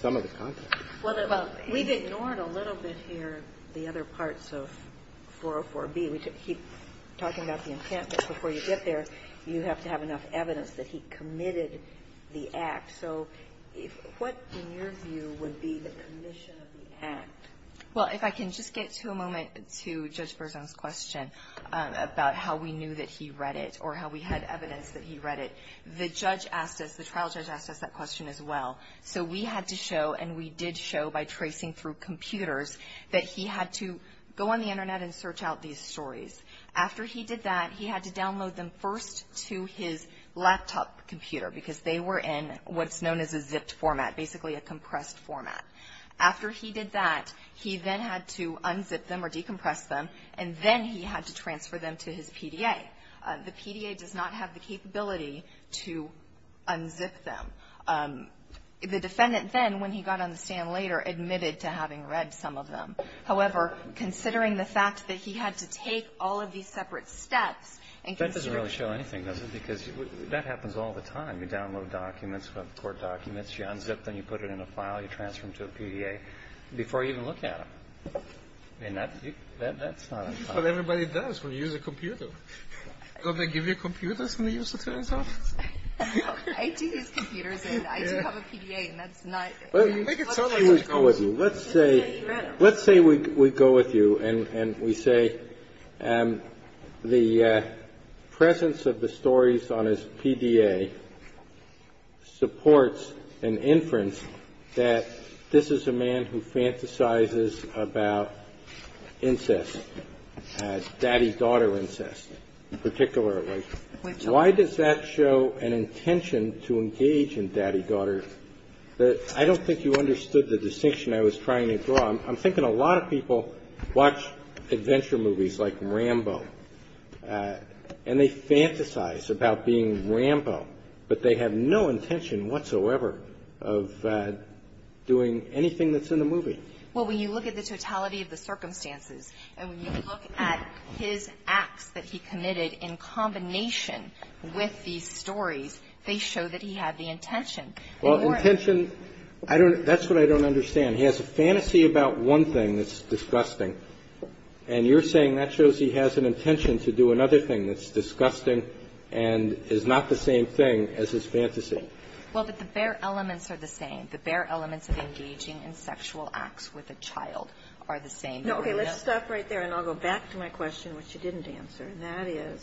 some of the content. Well, we've ignored a little bit here the other parts of 404B. We keep talking about the intent, but before you get there, you have to have enough evidence that he committed the act. So what, in your view, would be the commission of the act? Well, if I can just get to a moment to Judge Berzon's question about how we knew that he read it or how we had evidence that he read it. The judge asked us, the trial judge asked us that question as well. So we had to show, and we did show by tracing through computers, that he had to go on the Internet and search out these stories. After he did that, he had to download them first to his laptop computer because they were in what's known as a zipped format, basically a compressed format. After he did that, he then had to unzip them or decompress them, and then he had to transfer them to his PDA. The PDA does not have the capability to unzip them. The defendant then, when he got on the stand later, admitted to having read some of them. However, considering the fact that he had to take all of these separate steps and consider That doesn't really show anything, does it? Because that happens all the time. You download documents, court documents. You unzip them. You put it in a file. You transfer them to a PDA before you even look at them. And that's not a problem. That's what everybody does when you use a computer. Don't they give you computers when you use the trial judge? I do use computers, and I do have a PDA, and that's not Well, let's say we go with you. And we say the presence of the stories on his PDA supports an inference that this is a man who fantasizes about incest, daddy-daughter incest particularly. Why does that show an intention to engage in daddy-daughter? I don't think you understood the distinction I was trying to draw. I'm thinking a lot of people watch adventure movies like Rambo, and they fantasize about being Rambo, but they have no intention whatsoever of doing anything that's in the movie. Well, when you look at the totality of the circumstances, and when you look at his acts that he committed in combination with these stories, they show that he had the intention. Well, intention, that's what I don't understand. He has a fantasy about one thing that's disgusting, and you're saying that shows he has an intention to do another thing that's disgusting and is not the same thing as his fantasy. Well, but the bare elements are the same. The bare elements of engaging in sexual acts with a child are the same. Okay. Let's stop right there, and I'll go back to my question, which you didn't answer, and that is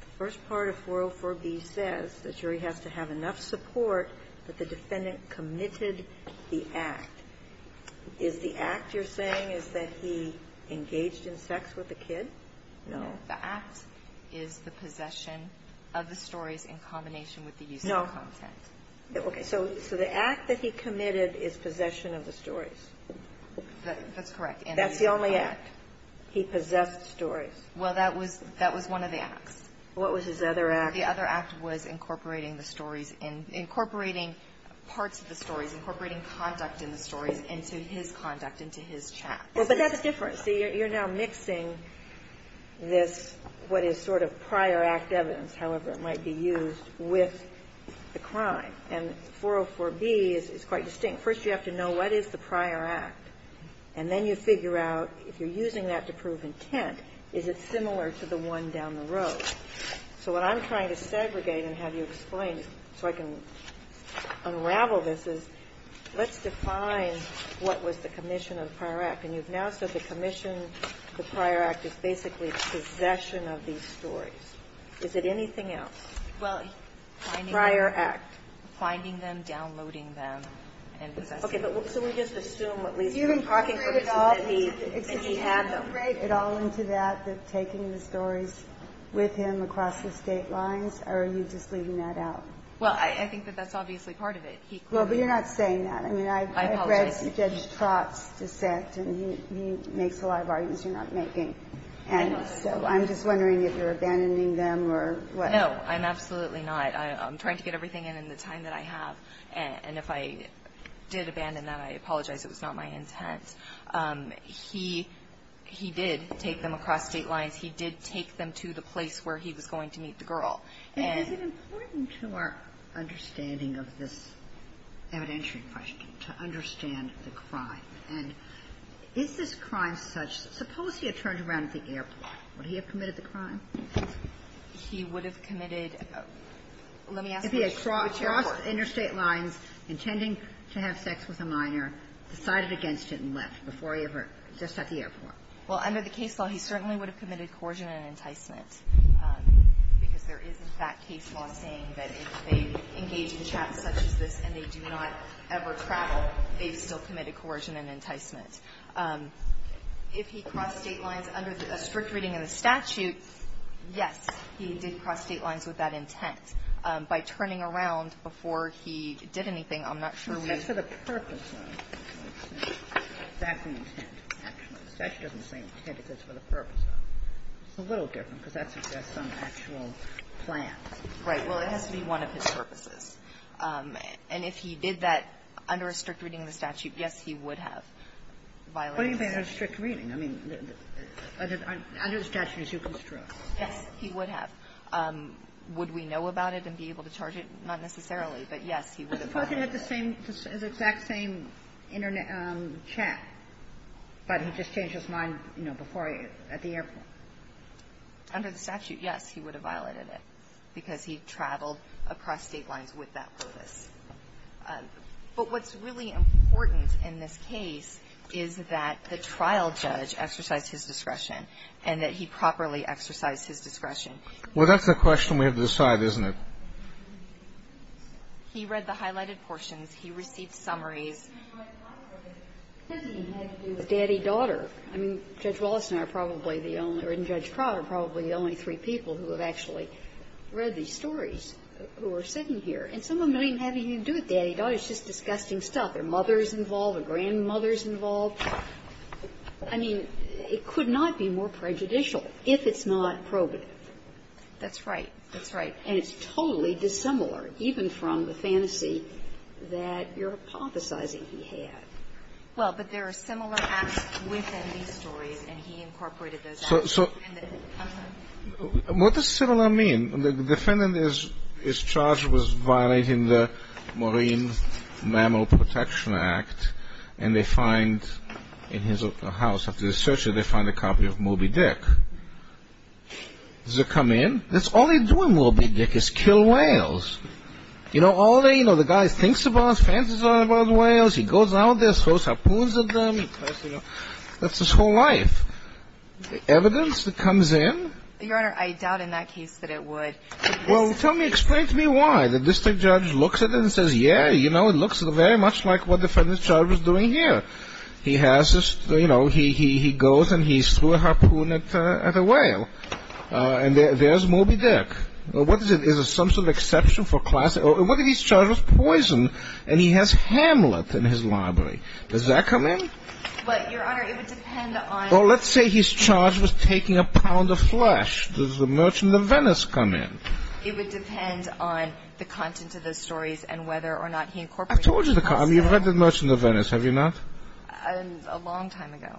the first part of 404b says the jury has to have enough support that the defendant committed the act. Is the act you're saying is that he engaged in sex with a kid? No. The act is the possession of the stories in combination with the use of content. No. Okay. So the act that he committed is possession of the stories. That's correct. That's the only act. He possessed stories. Well, that was one of the acts. What was his other act? The other act was incorporating the stories in, incorporating parts of the stories, incorporating conduct in the stories into his conduct, into his chat. Well, but that's different. See, you're now mixing this, what is sort of prior act evidence, however it might be used, with the crime, and 404b is quite distinct. First you have to know what is the prior act, and then you figure out, if you're using that to prove intent, is it similar to the one down the road? So what I'm trying to segregate and have you explain so I can unravel this is, let's define what was the commission of the prior act. And you've now said the commission of the prior act is basically possession of these stories. Is it anything else? Well, finding them. Prior act. Finding them, downloading them, and possessing them. Okay. So we just assume at least what you're talking about is that he had them. Did you integrate at all into that, taking the stories with him across the state lines, or are you just leaving that out? Well, I think that that's obviously part of it. Well, but you're not saying that. I apologize. I mean, I've read Judge Trott's dissent, and he makes a lot of arguments you're not making. And so I'm just wondering if you're abandoning them or what. No, I'm absolutely not. I'm trying to get everything in in the time that I have. And if I did abandon that, I apologize. It was not my intent. He did take them across state lines. He did take them to the place where he was going to meet the girl. And is it important to our understanding of this evidentiary question to understand the crime? And is this crime such that suppose he had turned around at the airport. Would he have committed the crime? He would have committed. Let me ask you which airport. If he had crossed interstate lines intending to have sex with a minor, decided against it and left before he ever, just at the airport. Well, under the case law, he certainly would have committed coercion and enticement, because there is, in fact, case law saying that if they engage in a trap such as this and they do not ever travel, they've still committed coercion and enticement. If he crossed state lines under a strict reading of the statute, yes, he did cross state lines with that intent. By turning around before he did anything, I'm not sure we would have. That's for the purpose of. That's the intent, actually. The statute doesn't say intent if it's for the purpose of. It's a little different, because that suggests some actual plan. Right. Well, it has to be one of his purposes. And if he did that under a strict reading of the statute, yes, he would have violated the statute. What do you mean by under a strict reading? I mean, under the statute as you construct. Yes, he would have. Would we know about it and be able to charge it? Not necessarily. But, yes, he would have violated it. He probably had the same exact same chat, but he just changed his mind, you know, before at the airport. Under the statute, yes, he would have violated it, because he traveled across state lines with that purpose. But what's really important in this case is that the trial judge exercised his discretion and that he properly exercised his discretion. Well, that's the question we have to decide, isn't it? He read the highlighted portions. He received summaries. It doesn't even have to do with daddy-daughter. I mean, Judge Wallace and I are probably the only or in Judge Pratt are probably the only three people who have actually read these stories who are sitting here. And some of them don't even have anything to do with daddy-daughter. It's just disgusting stuff. There are mothers involved. There are grandmothers involved. I mean, it could not be more prejudicial if it's not probative. That's right. That's right. And it's totally dissimilar, even from the fantasy that you're hypothesizing he had. Well, but there are similar acts within these stories, and he incorporated those. So what does similar mean? The defendant is charged with violating the Marine Mammal Protection Act, and they find in his house, after the search, they find a copy of Moby Dick. Does it come in? That's all he's doing, Moby Dick, is kill whales. You know, all day, you know, the guy thinks about his fantasies about whales. He goes out there, throws harpoons at them. That's his whole life. The evidence that comes in? Your Honor, I doubt in that case that it would. Well, tell me, explain to me why. The district judge looks at it and says, yeah, you know, it looks very much like what the defendant's charge was doing here. He has this, you know, he goes and he threw a harpoon at a whale. And there's Moby Dick. What is it? Is it some sort of exception for class? And what if his charge was poison, and he has Hamlet in his library? Does that come in? But, Your Honor, it would depend on. Well, let's say his charge was taking a pound of flesh. Does the Merchant of Venice come in? It would depend on the content of the stories and whether or not he incorporated. I've told you the content. You've read the Merchant of Venice, have you not? A long time ago.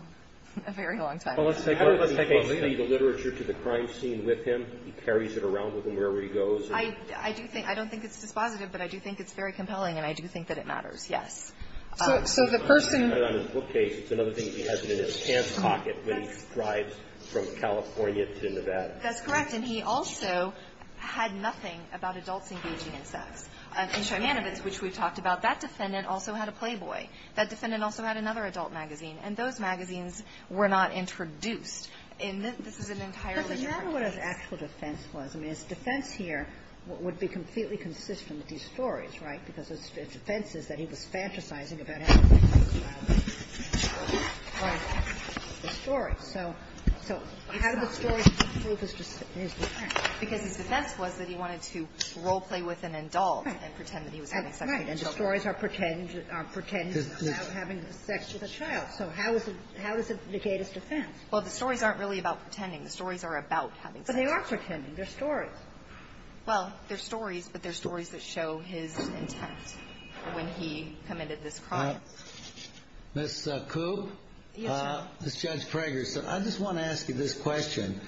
A very long time ago. Well, let's take a look. He takes the literature to the crime scene with him. He carries it around with him wherever he goes. I do think – I don't think it's dispositive, but I do think it's very compelling, and I do think that it matters, yes. So the person – On his bookcase, it's another thing. He has it in his pants pocket when he thrives from California to Nevada. That's correct. And he also had nothing about adults engaging in sex. In Shimanowitz, which we've talked about, that defendant also had a playboy. That defendant also had another adult magazine. And those magazines were not introduced. And this is an entirely different case. But remember what his actual defense was. I mean, his defense here would be completely consistent with these stories, right? Because his defense is that he was fantasizing about having sex with a child. The stories. So how did the stories prove his defense? Because his defense was that he wanted to role-play with an adult and pretend that he was having sex with a child. And the stories are pretentious – are pretentious about having sex with a child. So how is it – how does it indicate his defense? Well, the stories aren't really about pretending. The stories are about having sex. But they are pretending. They're stories. Well, they're stories, but they're stories that show his intent when he committed this crime. Ms. Koob? Yes, Your Honor. This is Judge Prager. I just want to ask you this question.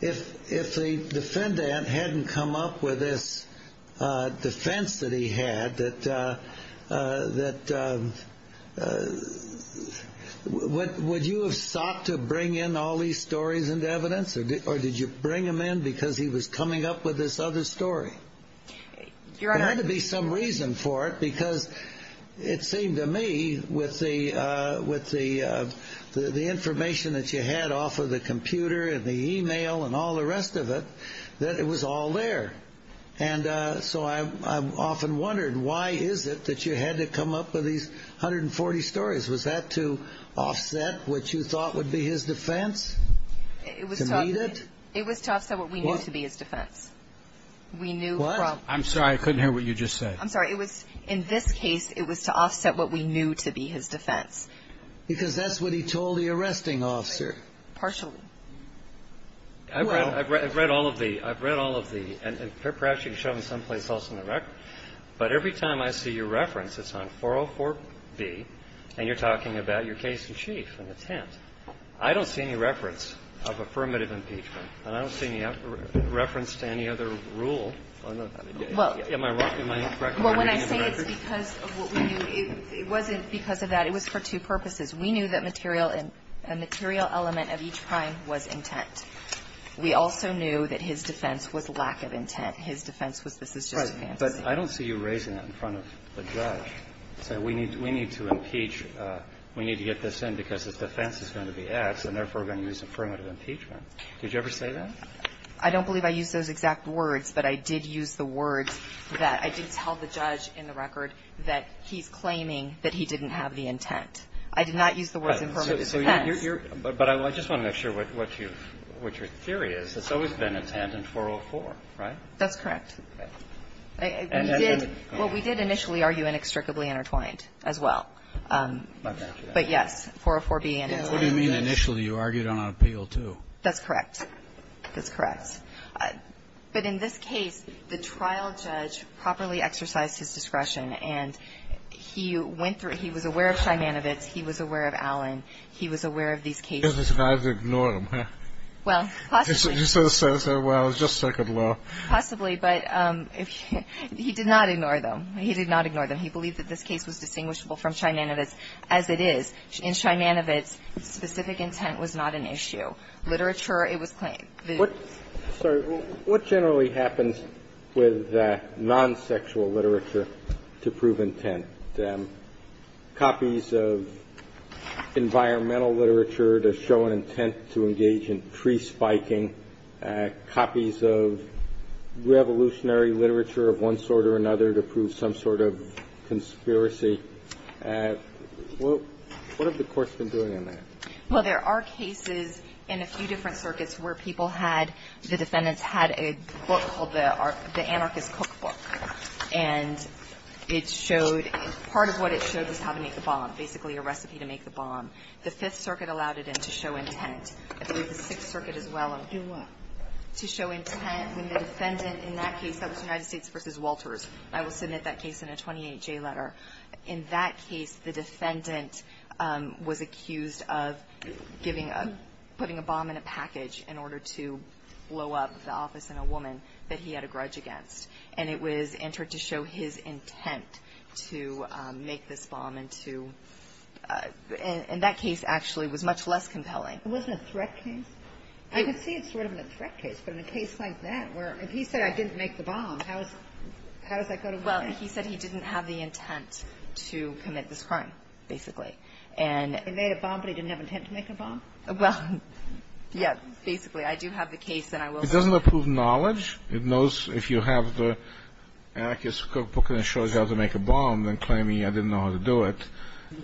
If the defendant hadn't come up with this defense that he had, would you have sought to bring in all these stories and evidence? Or did you bring them in because he was coming up with this other story? Your Honor. There had to be some reason for it because it seemed to me with the information that you had off of the computer and the e-mail and all the rest of it, that it was all there. And so I often wondered, why is it that you had to come up with these 140 stories? Was that to offset what you thought would be his defense? To meet it? It was to offset what we knew to be his defense. What? I'm sorry. I couldn't hear what you just said. I'm sorry. In this case, it was to offset what we knew to be his defense. Because that's what he told the arresting officer. Partially. I've read all of the – I've read all of the – and perhaps you can show them someplace else in the record. But every time I see your reference, it's on 404B, and you're talking about your case-in-chief in the tent. I don't see any reference of affirmative impeachment, and I don't see any reference to any other rule. Well, when I say it's because of what we knew, it wasn't because of that. It was for two purposes. We knew that material element of each crime was intent. We also knew that his defense was lack of intent. His defense was this is just a fantasy. Right. But I don't see you raising that in front of the judge, saying we need to impeach – we need to get this in because his defense is going to be X, and therefore we're going to use affirmative impeachment. Did you ever say that? I don't believe I used those exact words, but I did use the words that – I did tell the judge in the record that he's claiming that he didn't have the intent. I did not use the words affirmative defense. But I just want to make sure what your theory is. It's always been intent in 404, right? That's correct. We did – well, we did initially argue inextricably intertwined as well. But yes, 404B and – What do you mean, initially? You argued on appeal, too. That's correct. That's correct. But in this case, the trial judge properly exercised his discretion, and he went through – he was aware of Shainanovitz. He was aware of Allen. He was aware of these cases. He didn't survive to ignore them. Well, possibly. He said, well, it was just second law. Possibly. But he did not ignore them. He did not ignore them. He believed that this case was distinguishable from Shainanovitz as it is. In Shainanovitz, specific intent was not an issue. Literature, it was – What – sorry. What generally happens with non-sexual literature to prove intent? Copies of environmental literature to show an intent to engage in tree spiking, copies of revolutionary literature of one sort or another to prove some sort of conspiracy. What have the courts been doing in that? Well, there are cases in a few different circuits where people had – the defendants had a book called the Anarchist Cookbook, and it showed – part of what it showed was how to make the bomb, basically a recipe to make the bomb. The Fifth Circuit allowed it to show intent. I believe the Sixth Circuit as well. Do what? To show intent when the defendant in that case – that was United States v. Walters. I will submit that case in a 28-J letter. In that case, the defendant was accused of giving a – putting a bomb in a package in order to blow up the office in a woman that he had a grudge against. And it was entered to show his intent to make this bomb and to – and that case actually was much less compelling. It wasn't a threat case? I could see it sort of in a threat case, but in a case like that, where if he said, I didn't make the bomb, how does that go to court? Well, he said he didn't have the intent to commit this crime, basically. And – He made a bomb, but he didn't have intent to make a bomb? Well, yes, basically. I do have the case, and I will submit it. It doesn't approve knowledge. It knows if you have the Anarchist Cookbook and it shows you how to make a bomb, then claiming I didn't know how to do it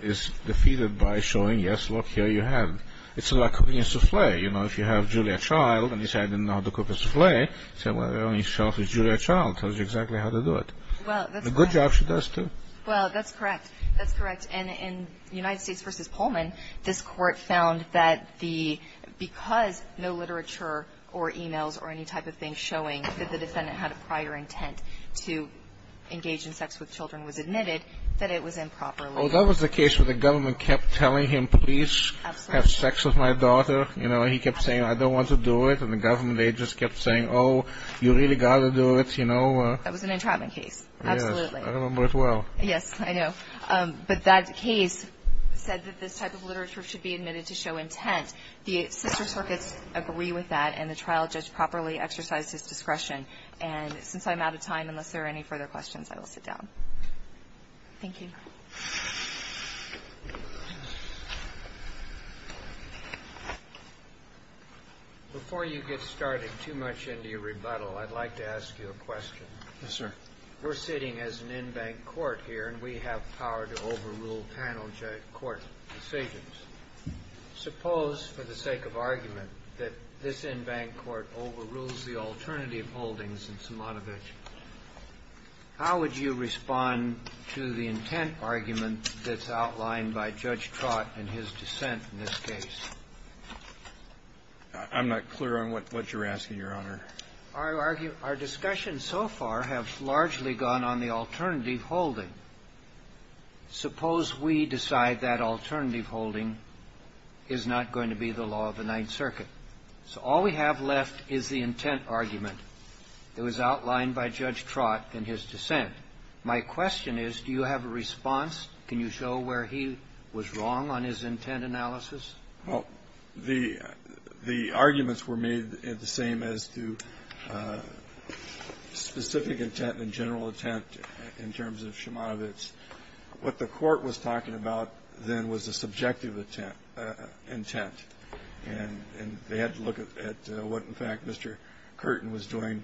is defeated by showing, yes, look, here you have it. It's like cooking a souffle. You know, if you have Julia Child and you say, I didn't know how to cook a souffle, you say, well, the only souffle is Julia Child. It tells you exactly how to do it. Well, that's correct. A good job she does, too. Well, that's correct. That's correct. And in United States v. Pullman, this court found that the – because no literature or e-mails or any type of thing showing that the defendant had a prior intent to engage in sex with children was admitted, that it was improperly – Well, that was the case where the government kept telling him, please have sex with my daughter. You know, he kept saying, I don't want to do it, and the government, they just kept saying, oh, you really got to do it, you know. That was an entrapment case, absolutely. Yes, I remember it well. Yes, I know. But that case said that this type of literature should be admitted to show intent. The sister circuits agree with that, and the trial judge properly exercised his discretion. And since I'm out of time, unless there are any further questions, I will sit down. Thank you. Before you get started too much into your rebuttal, I'd like to ask you a question. Yes, sir. We're sitting as an in-bank court here, and we have power to overrule panel court decisions. Suppose, for the sake of argument, that this in-bank court overrules the alternative holdings in Somanovich, how would you respond to the intent argument that's outlined by Judge Trott and his dissent in this case? I'm not clear on what you're asking, Your Honor. Our discussion so far has largely gone on the alternative holding. Suppose we decide that alternative holding is not going to be the law of the Ninth Circuit. So all we have left is the intent argument. It was outlined by Judge Trott in his dissent. My question is, do you have a response? Can you show where he was wrong on his intent analysis? Well, the arguments were made the same as to specific intent and general intent in terms of Somanovich. What the Court was talking about then was the subjective intent. And they had to look at what, in fact, Mr. Curtin was doing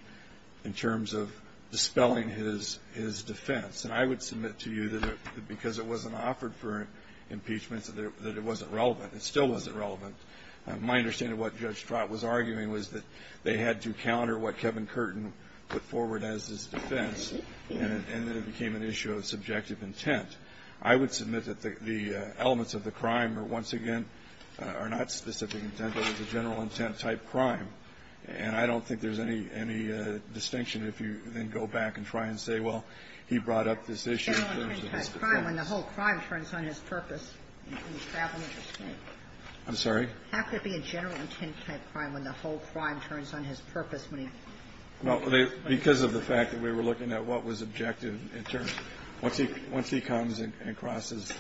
in terms of dispelling his defense. And I would submit to you that because it wasn't offered for impeachment, that it wasn't relevant. It still wasn't relevant. My understanding of what Judge Trott was arguing was that they had to counter what Kevin Curtin put forward as his defense, and it became an issue of subjective intent. I would submit that the elements of the crime are, once again, are not specific intent, but it was a general intent-type crime. And I don't think there's any distinction if you then go back and try and say, well, he brought up this issue in terms of his defense. General intent-type crime when the whole crime turns on his purpose and he's traveling to escape. I'm sorry? How could it be a general intent-type crime when the whole crime turns on his purpose when he's traveling to escape? Well, because of the fact that we were looking at what was objective in terms of the crime. Once he comes and crosses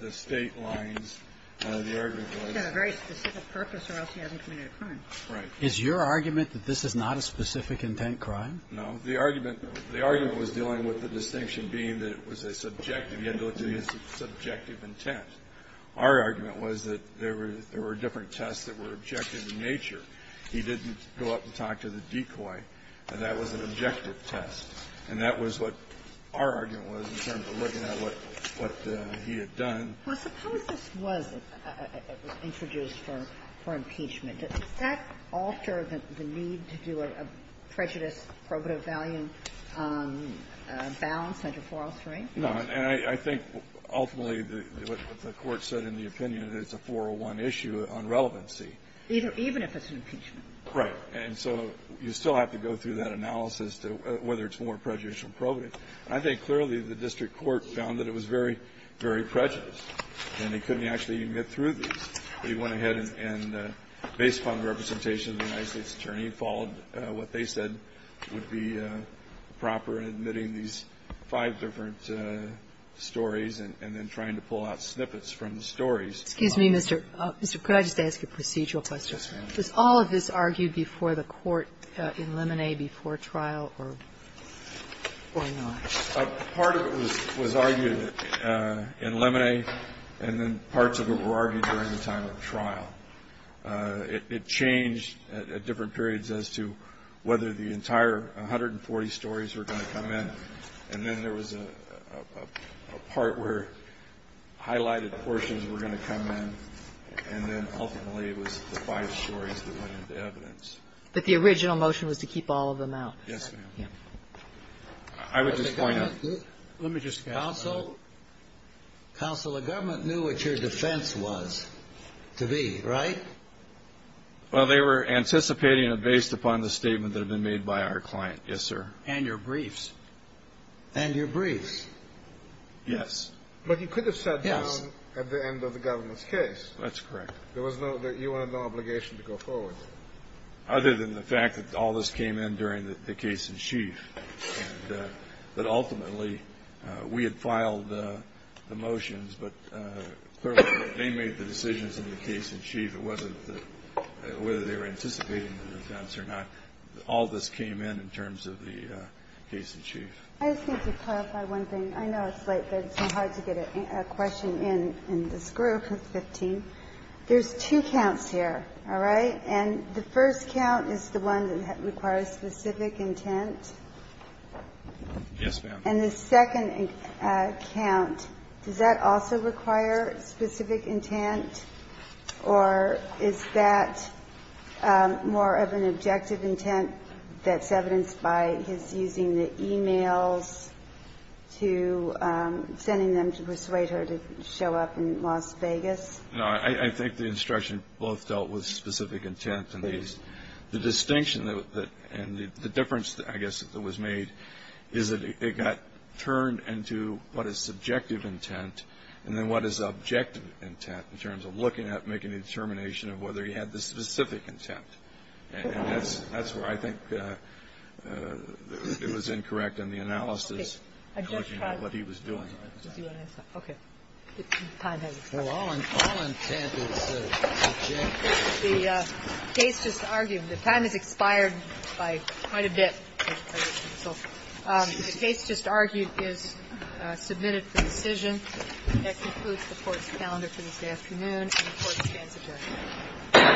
the State lines, the argument was. He had a very specific purpose, or else he hasn't committed a crime. Right. Is your argument that this is not a specific intent crime? No. The argument was dealing with the distinction being that it was a subjective intent. He had to look to his subjective intent. Our argument was that there were different tests that were objective in nature. He didn't go up to talk to the decoy, and that was an objective test. And that was what our argument was in terms of looking at what he had done. Well, suppose this was introduced for impeachment. Does that alter the need to do a prejudice probative value balance under 403? No. And I think ultimately the Court said in the opinion that it's a 401 issue on relevancy. Even if it's an impeachment. Right. And so you still have to go through that analysis to whether it's more prejudicial or probative. And I think clearly the district court found that it was very, very prejudiced. And they couldn't actually even get through these. They went ahead and based upon the representation of the United States attorney and followed what they said would be proper in admitting these five different stories and then trying to pull out snippets from the stories. Excuse me, Mr. Can I just ask a procedural question? Yes, ma'am. Was all of this argued before the court in Lemonet before trial or not? Part of it was argued in Lemonet and then parts of it were argued during the time of trial. It changed at different periods as to whether the entire 140 stories were going to come in. And then there was a part where highlighted portions were going to come in. And then ultimately it was the five stories that went into evidence. But the original motion was to keep all of them out. Yes, ma'am. I would just point out. Let me just ask counsel. Counsel, the government knew what your defense was to be right. Well, they were anticipating it based upon the statement that had been made by our client. Yes, sir. And your briefs. And your briefs. Yes. But you could have sat down at the end of the government's case. That's correct. There was no you had no obligation to go forward. Other than the fact that all this came in during the case in chief and that ultimately we had filed the motions, but they made the decisions in the case in chief. It wasn't whether they were anticipating the defense or not. All this came in in terms of the case in chief. I just need to clarify one thing. I know it's late, but it's so hard to get a question in in this group of 15. There's two counts here. All right. And the first count is the one that requires specific intent. Yes, ma'am. And the second count, does that also require specific intent? Or is that more of an objective intent that's evidenced by his using the e-mails to sending them to persuade her to show up in Las Vegas? No. I think the instruction both dealt with specific intent. And the distinction and the difference, I guess, that was made is that it got turned into what is subjective intent and then what is objective intent in terms of looking at, making a determination of whether he had the specific intent. And that's where I think it was incorrect in the analysis, looking at what he was doing. Okay. The time has expired. Well, all intent is objective. The case just argued, the time has expired by quite a bit. The case just argued is submitted for decision. That concludes the Court's calendar for this afternoon. And the Court stands adjourned.